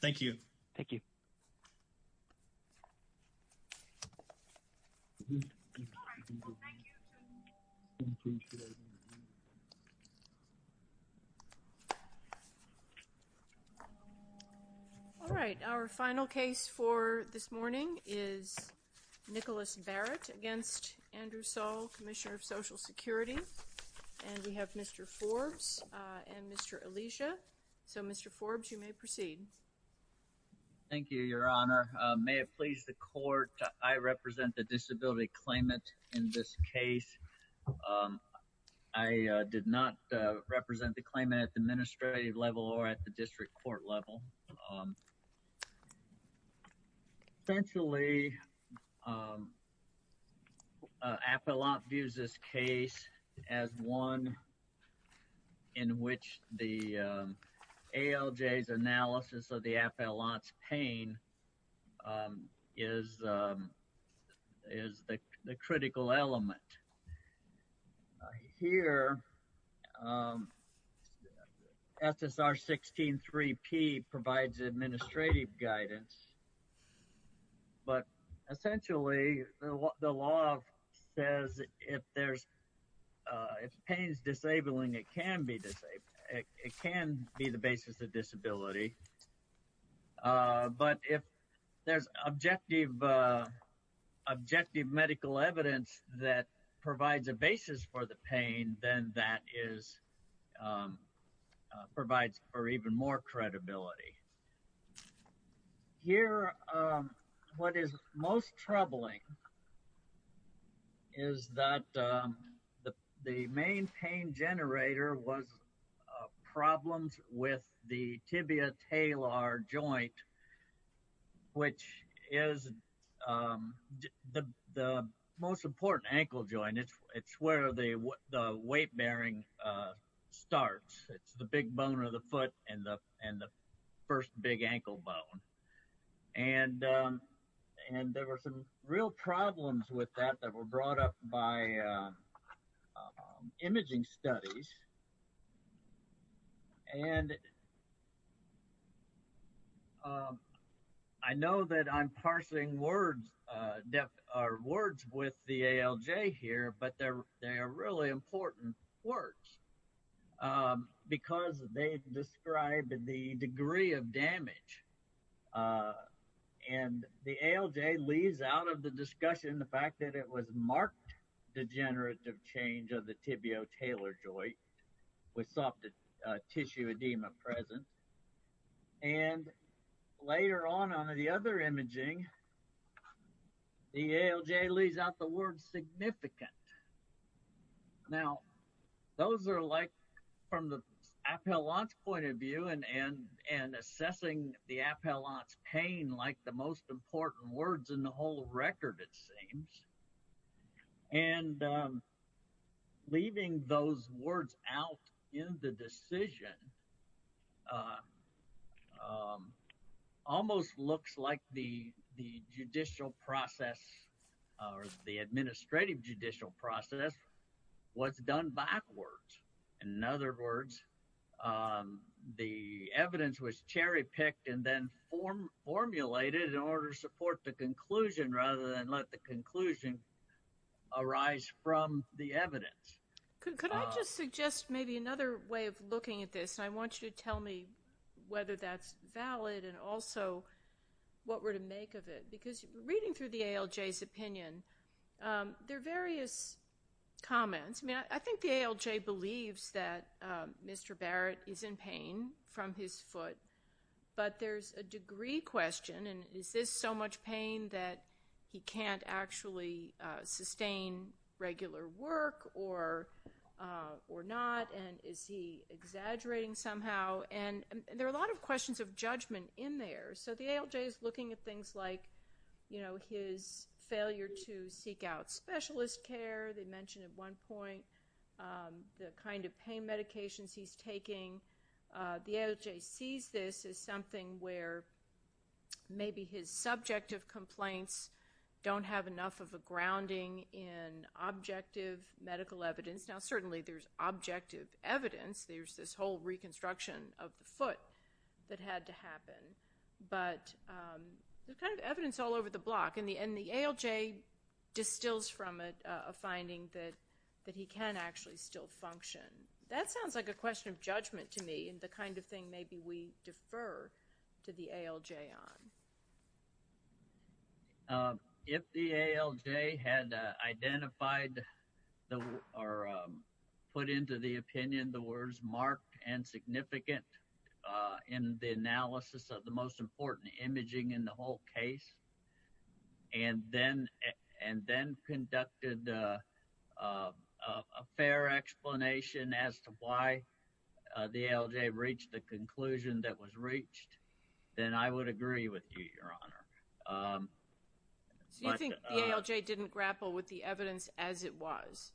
thank you thank you all right our final case for this morning is Nicholas Barrett against Andrew Saul Commissioner of Social Security and we have mr. Forbes and mr. Alicia so mr. Forbes you may proceed thank you your honor may it please the court I represent the disability claimant in this case I did not represent the claimant at the administrative level or at the district court level essentially a lot views this case as one in which the ALJ's analysis of the affluence pain is is the critical element here SSR 16 3p provides administrative guidance but essentially the law says if there's if pain is disabling it can be disabled it can be the basis of disability but if there's objective objective medical evidence that provides a basis for the pain then that is provides for even more credibility here what is most troubling is that the the main pain generator was problems with the tibia talar joint which is the most important ankle joint it's it's where they what the weight bearing starts it's the big bone of the foot and the and the first big ankle bone and and there were some real problems with that that were brought up by imaging studies and I know that I'm parsing words depth our words with the ALJ here but they're they are really important words because they described the degree of damage and the ALJ leaves out of the discussion the fact that it was marked degenerative change of the tibia talar joint with soft tissue edema present and later on under the other imaging the ALJ leaves out the word and and assessing the appellant's pain like the most important words in the whole record it seems and leaving those words out in the decision almost looks like the the judicial process or the administrative judicial process was done backwards in other words the evidence was cherry-picked and then form formulated in order to support the conclusion rather than let the conclusion arise from the evidence could I just suggest maybe another way of looking at this I want you to tell me whether that's valid and also what we're to make of it because reading through the ALJ his opinion there are various comments I think the ALJ believes that Mr. Barrett is in pain from his foot but there's a degree question and is this so much pain that he can't actually sustain regular work or or not and is he exaggerating somehow and there are a lot of questions of judgment in there so the ALJ is looking at things like you know his failure to seek out specialist care they mentioned at one point the kind of pain medications he's taking the ALJ sees this is something where maybe his subjective complaints don't have enough of a grounding in objective medical evidence now certainly there's objective evidence there's this whole reconstruction of the foot that had to happen but the kind of evidence all over the block in the end the ALJ distills from it a finding that that he can actually still function that sounds like a question of judgment to me and the kind of thing maybe we defer to the ALJ on if the ALJ had identified the or put into the opinion the words marked and significant in the analysis of the most and then and then conducted a fair explanation as to why the ALJ reached the conclusion that was reached then I would agree with you your honor didn't grapple with the evidence as it was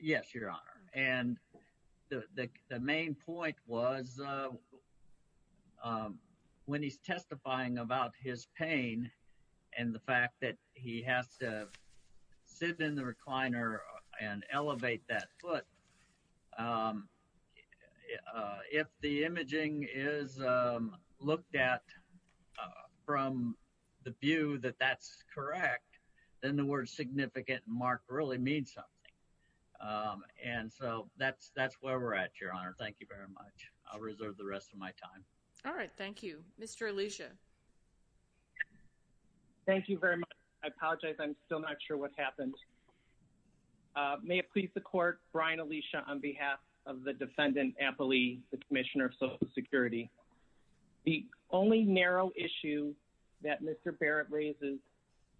yes your honor and the main point was when he's testifying about his pain and the fact that he has to sit in the recliner and elevate that foot if the imaging is looked at from the view that that's correct then the word significant mark really means something and so that's that's where we're at your honor thank you very much I'll reserve the rest of my time all right thank you mr. Alicia thank you very much I apologize I'm still not sure what happened may it please the court Brian Alicia on behalf of the defendant Appley the Commissioner of Social Security the only narrow issue that mr. Barrett raises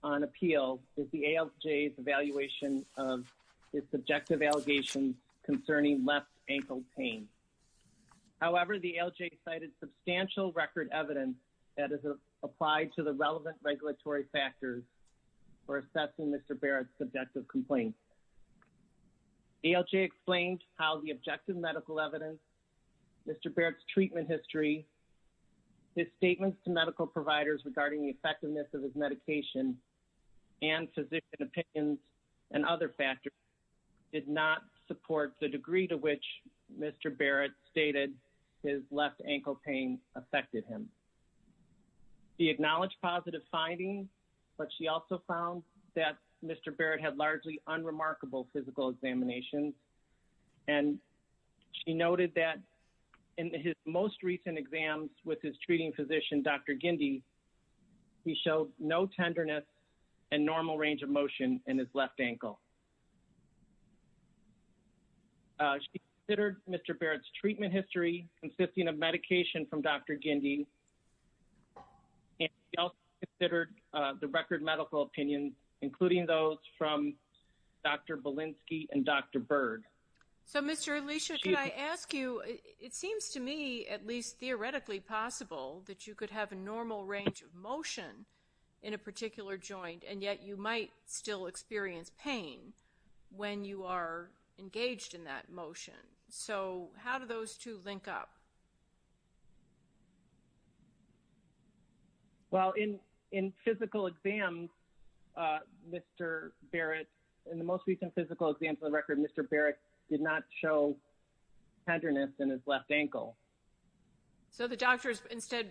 on appeal is the ALJ's evaluation of his subjective allegations concerning left ankle pain however the ALJ cited substantial record evidence that is applied to the relevant regulatory factors for assessing mr. Barrett subjective complaint ALJ explained how the objective medical evidence mr. Barrett's treatment history his statements to medical providers regarding the effectiveness of his medication and physician opinions and other factors did not support the degree to which mr. Barrett stated his left ankle pain affected him he acknowledged positive findings but she also found that mr. Barrett had largely unremarkable physical examinations and she noted that in his most recent exams with his treating physician dr. Gindi he no tenderness and normal range of motion in his left ankle she considered mr. Barrett's treatment history consisting of medication from dr. Gindi considered the record medical opinions including those from dr. Bolinski and dr. Byrd so mr. Alicia can I ask you it seems to me at least theoretically possible that you could have a normal range of motion in a particular joint and yet you might still experience pain when you are engaged in that motion so how do those two link up well in in physical exam mr. Barrett in the most recent physical exam for the record mr. Barrett did not show tenderness in his ankle so the doctors instead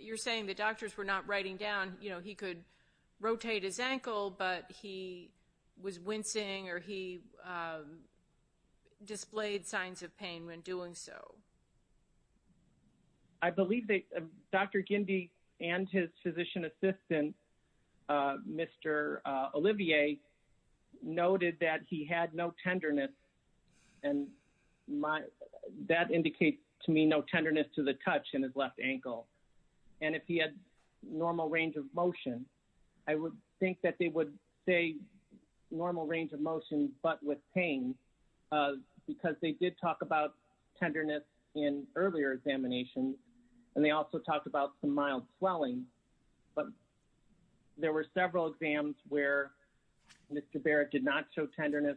you're saying the doctors were not writing down you know he could rotate his ankle but he was wincing or he displayed signs of pain when doing so I believe that dr. Gindi and his physician assistant mr. Olivier noted that he had no tenderness and my that indicates to me no tenderness to the touch in his left ankle and if he had normal range of motion I would think that they would say normal range of motion but with pain because they did talk about tenderness in earlier examination and they also talked about mild swelling but there were several exams where mr. Barrett did not show tenderness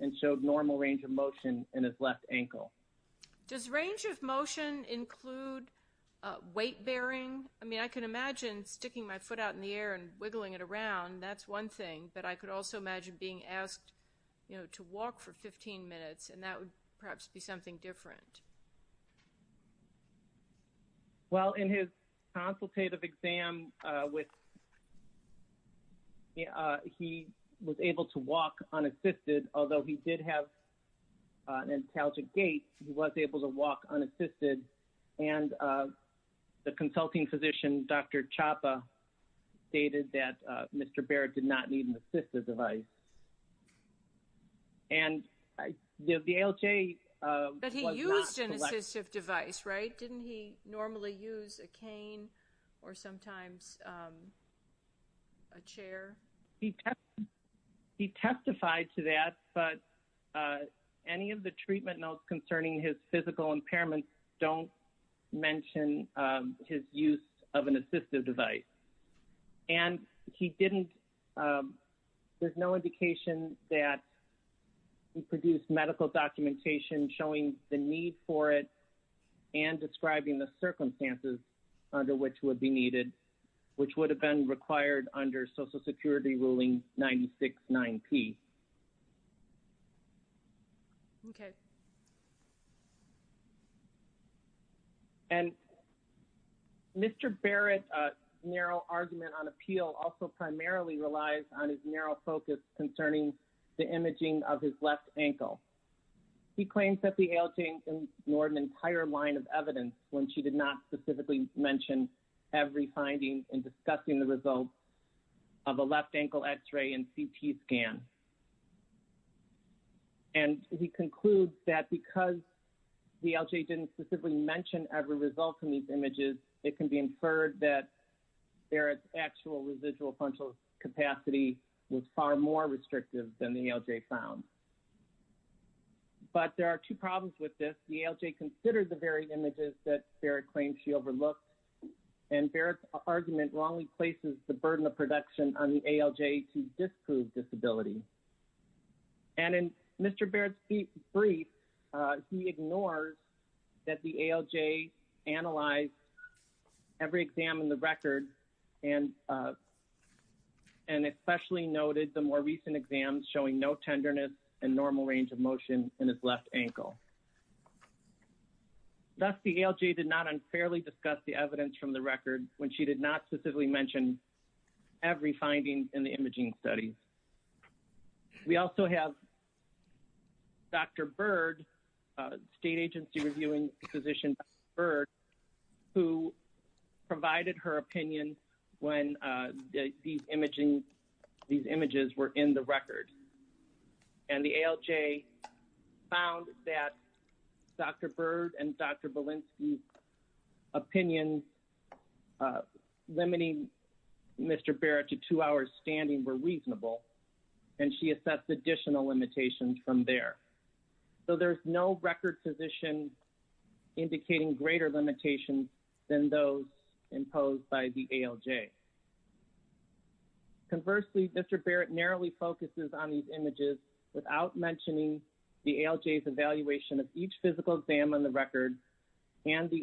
and showed normal range of motion in his left ankle does range of motion include weight-bearing I mean I can imagine sticking my foot out in the air and wiggling it around that's one thing but I could also imagine being asked you know to walk for 15 minutes and that would perhaps be something different well in his consultative exam with yeah he was able to walk unassisted although he did have an intelligent gate he was able to walk unassisted and the consulting physician dr. Chapa stated that mr. Barrett did not need an assistive device and the ALJ device right didn't he normally use a cane or sometimes a chair he testified to that but any of the treatment notes concerning his physical impairment don't mention his use of an assistive device and he didn't there's no indication that he produced medical documentation showing the need for it and describing the circumstances under which would be needed which would have been required under Social Security ruling 96 9p okay and mr. Barrett narrow argument on appeal also primarily relies on his narrow focus concerning the imaging of his left ankle he claims that the ALJ ignored an entire line of evidence when she did not specifically mention every finding in discussing the results of a left ankle x-ray and CT scan and he concludes that because the ALJ didn't specifically mention every result in these images it can be inferred that there is actual residual potential capacity was far more restrictive than the ALJ found but there are two problems with this the ALJ considered the very images that Barrett claims she overlooked and Barrett argument wrongly places the burden of production on the ALJ to he ignores that the ALJ analyzed every exam in the record and and especially noted the more recent exams showing no tenderness and normal range of motion in his left ankle that's the ALJ did not unfairly discuss the evidence from the record when she did not specifically mention every finding in the imaging studies we also have dr. Byrd state agency reviewing physician bird who provided her opinion when these imaging these images were in the record and the ALJ found that dr. Byrd and dr. Belinsky opinions limiting mr. Barrett to two hours standing were reasonable and she assessed additional limitations from there so there's no record physician indicating greater limitations than those imposed by the ALJ conversely mr. Barrett narrowly focuses on these images without mentioning the ALJ evaluation of each physical exam on the record and the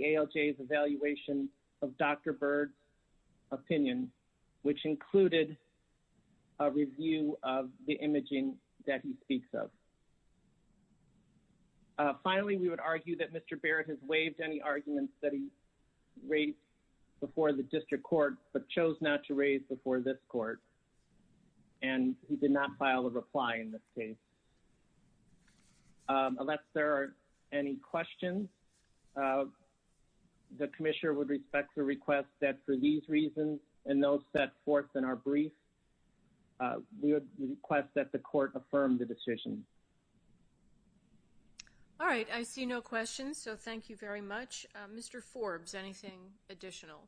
review of the imaging that he speaks of finally we would argue that mr. Barrett has waived any arguments that he raised before the district court but chose not to raise before this court and he did not file a reply in this case unless there are any questions the commissioner would respect the request that for these reasons and those set forth in our brief we would request that the court affirm the decision all right I see no questions so thank you very much mr. Forbes anything additional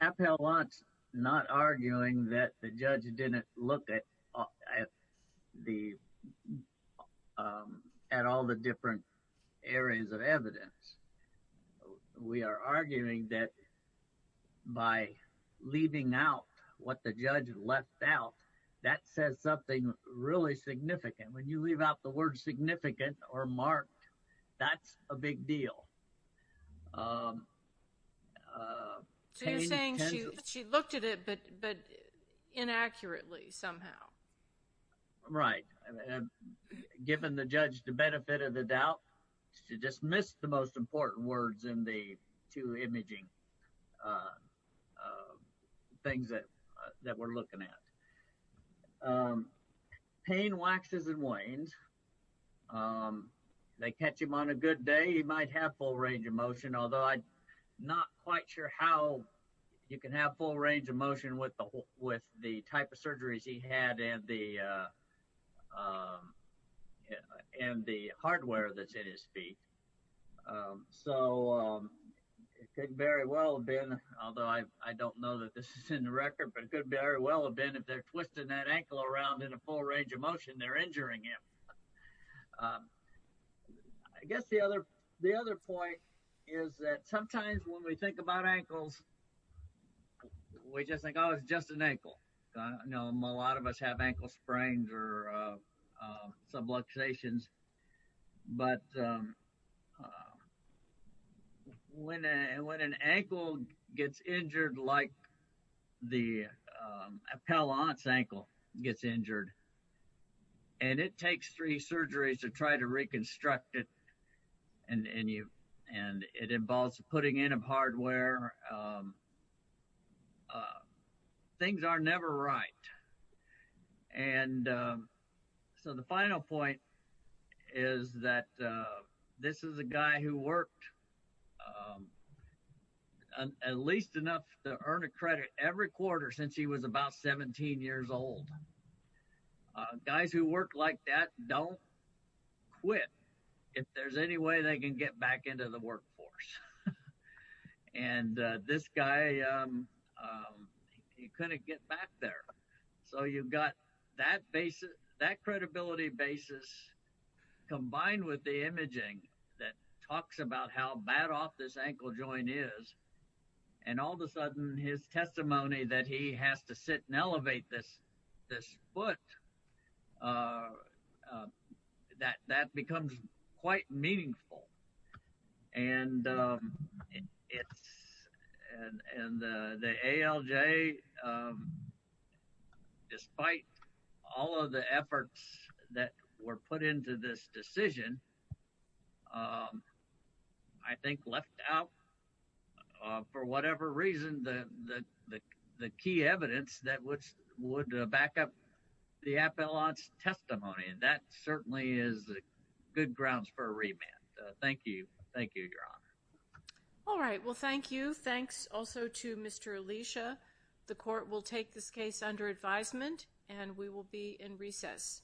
Apple wants not arguing that the judge didn't look at the at all the different areas of evidence we are arguing that by leaving out what the judge left out that says something really significant when you leave out the word significant or marked that's a big deal so you're saying she looked at it but but inaccurately somehow right given the judge to benefit of the doubt to dismiss the most important words in the two imaging things that that we're looking at pain waxes and wanes they catch him on a good day he might have full range of motion although I'm not quite sure how you can have full range of motion with the with the type of surgeries he had and the and the hardware that's in his feet so it could very well have been although I don't know that this is in the record but it could very well have been if they're twisting that ankle around in a full range of motion they're the other the other point is that sometimes when we think about ankles we just think I was just an ankle I know a lot of us have ankle sprains or subluxations but when and when an ankle gets injured like the appellant's ankle gets injured and it takes three surgeries to try to reconstruct it and and you and it involves putting in of hardware things are never right and so the final point is that this is a guy who worked at least enough to earn a guys who work like that don't quit if there's any way they can get back into the workforce and this guy you couldn't get back there so you've got that basis that credibility basis combined with the imaging that talks about how bad off this ankle joint is and all of a sudden his testimony that he has to sit and this foot that that becomes quite meaningful and it's and the ALJ despite all of the efforts that were put into this decision I think left out for whatever reason the the key evidence that which would back up the appellant's testimony and that certainly is good grounds for a remand thank you thank you your honor all right well thank you thanks also to mr. Alicia the court will take this case under advisement and we will be in recess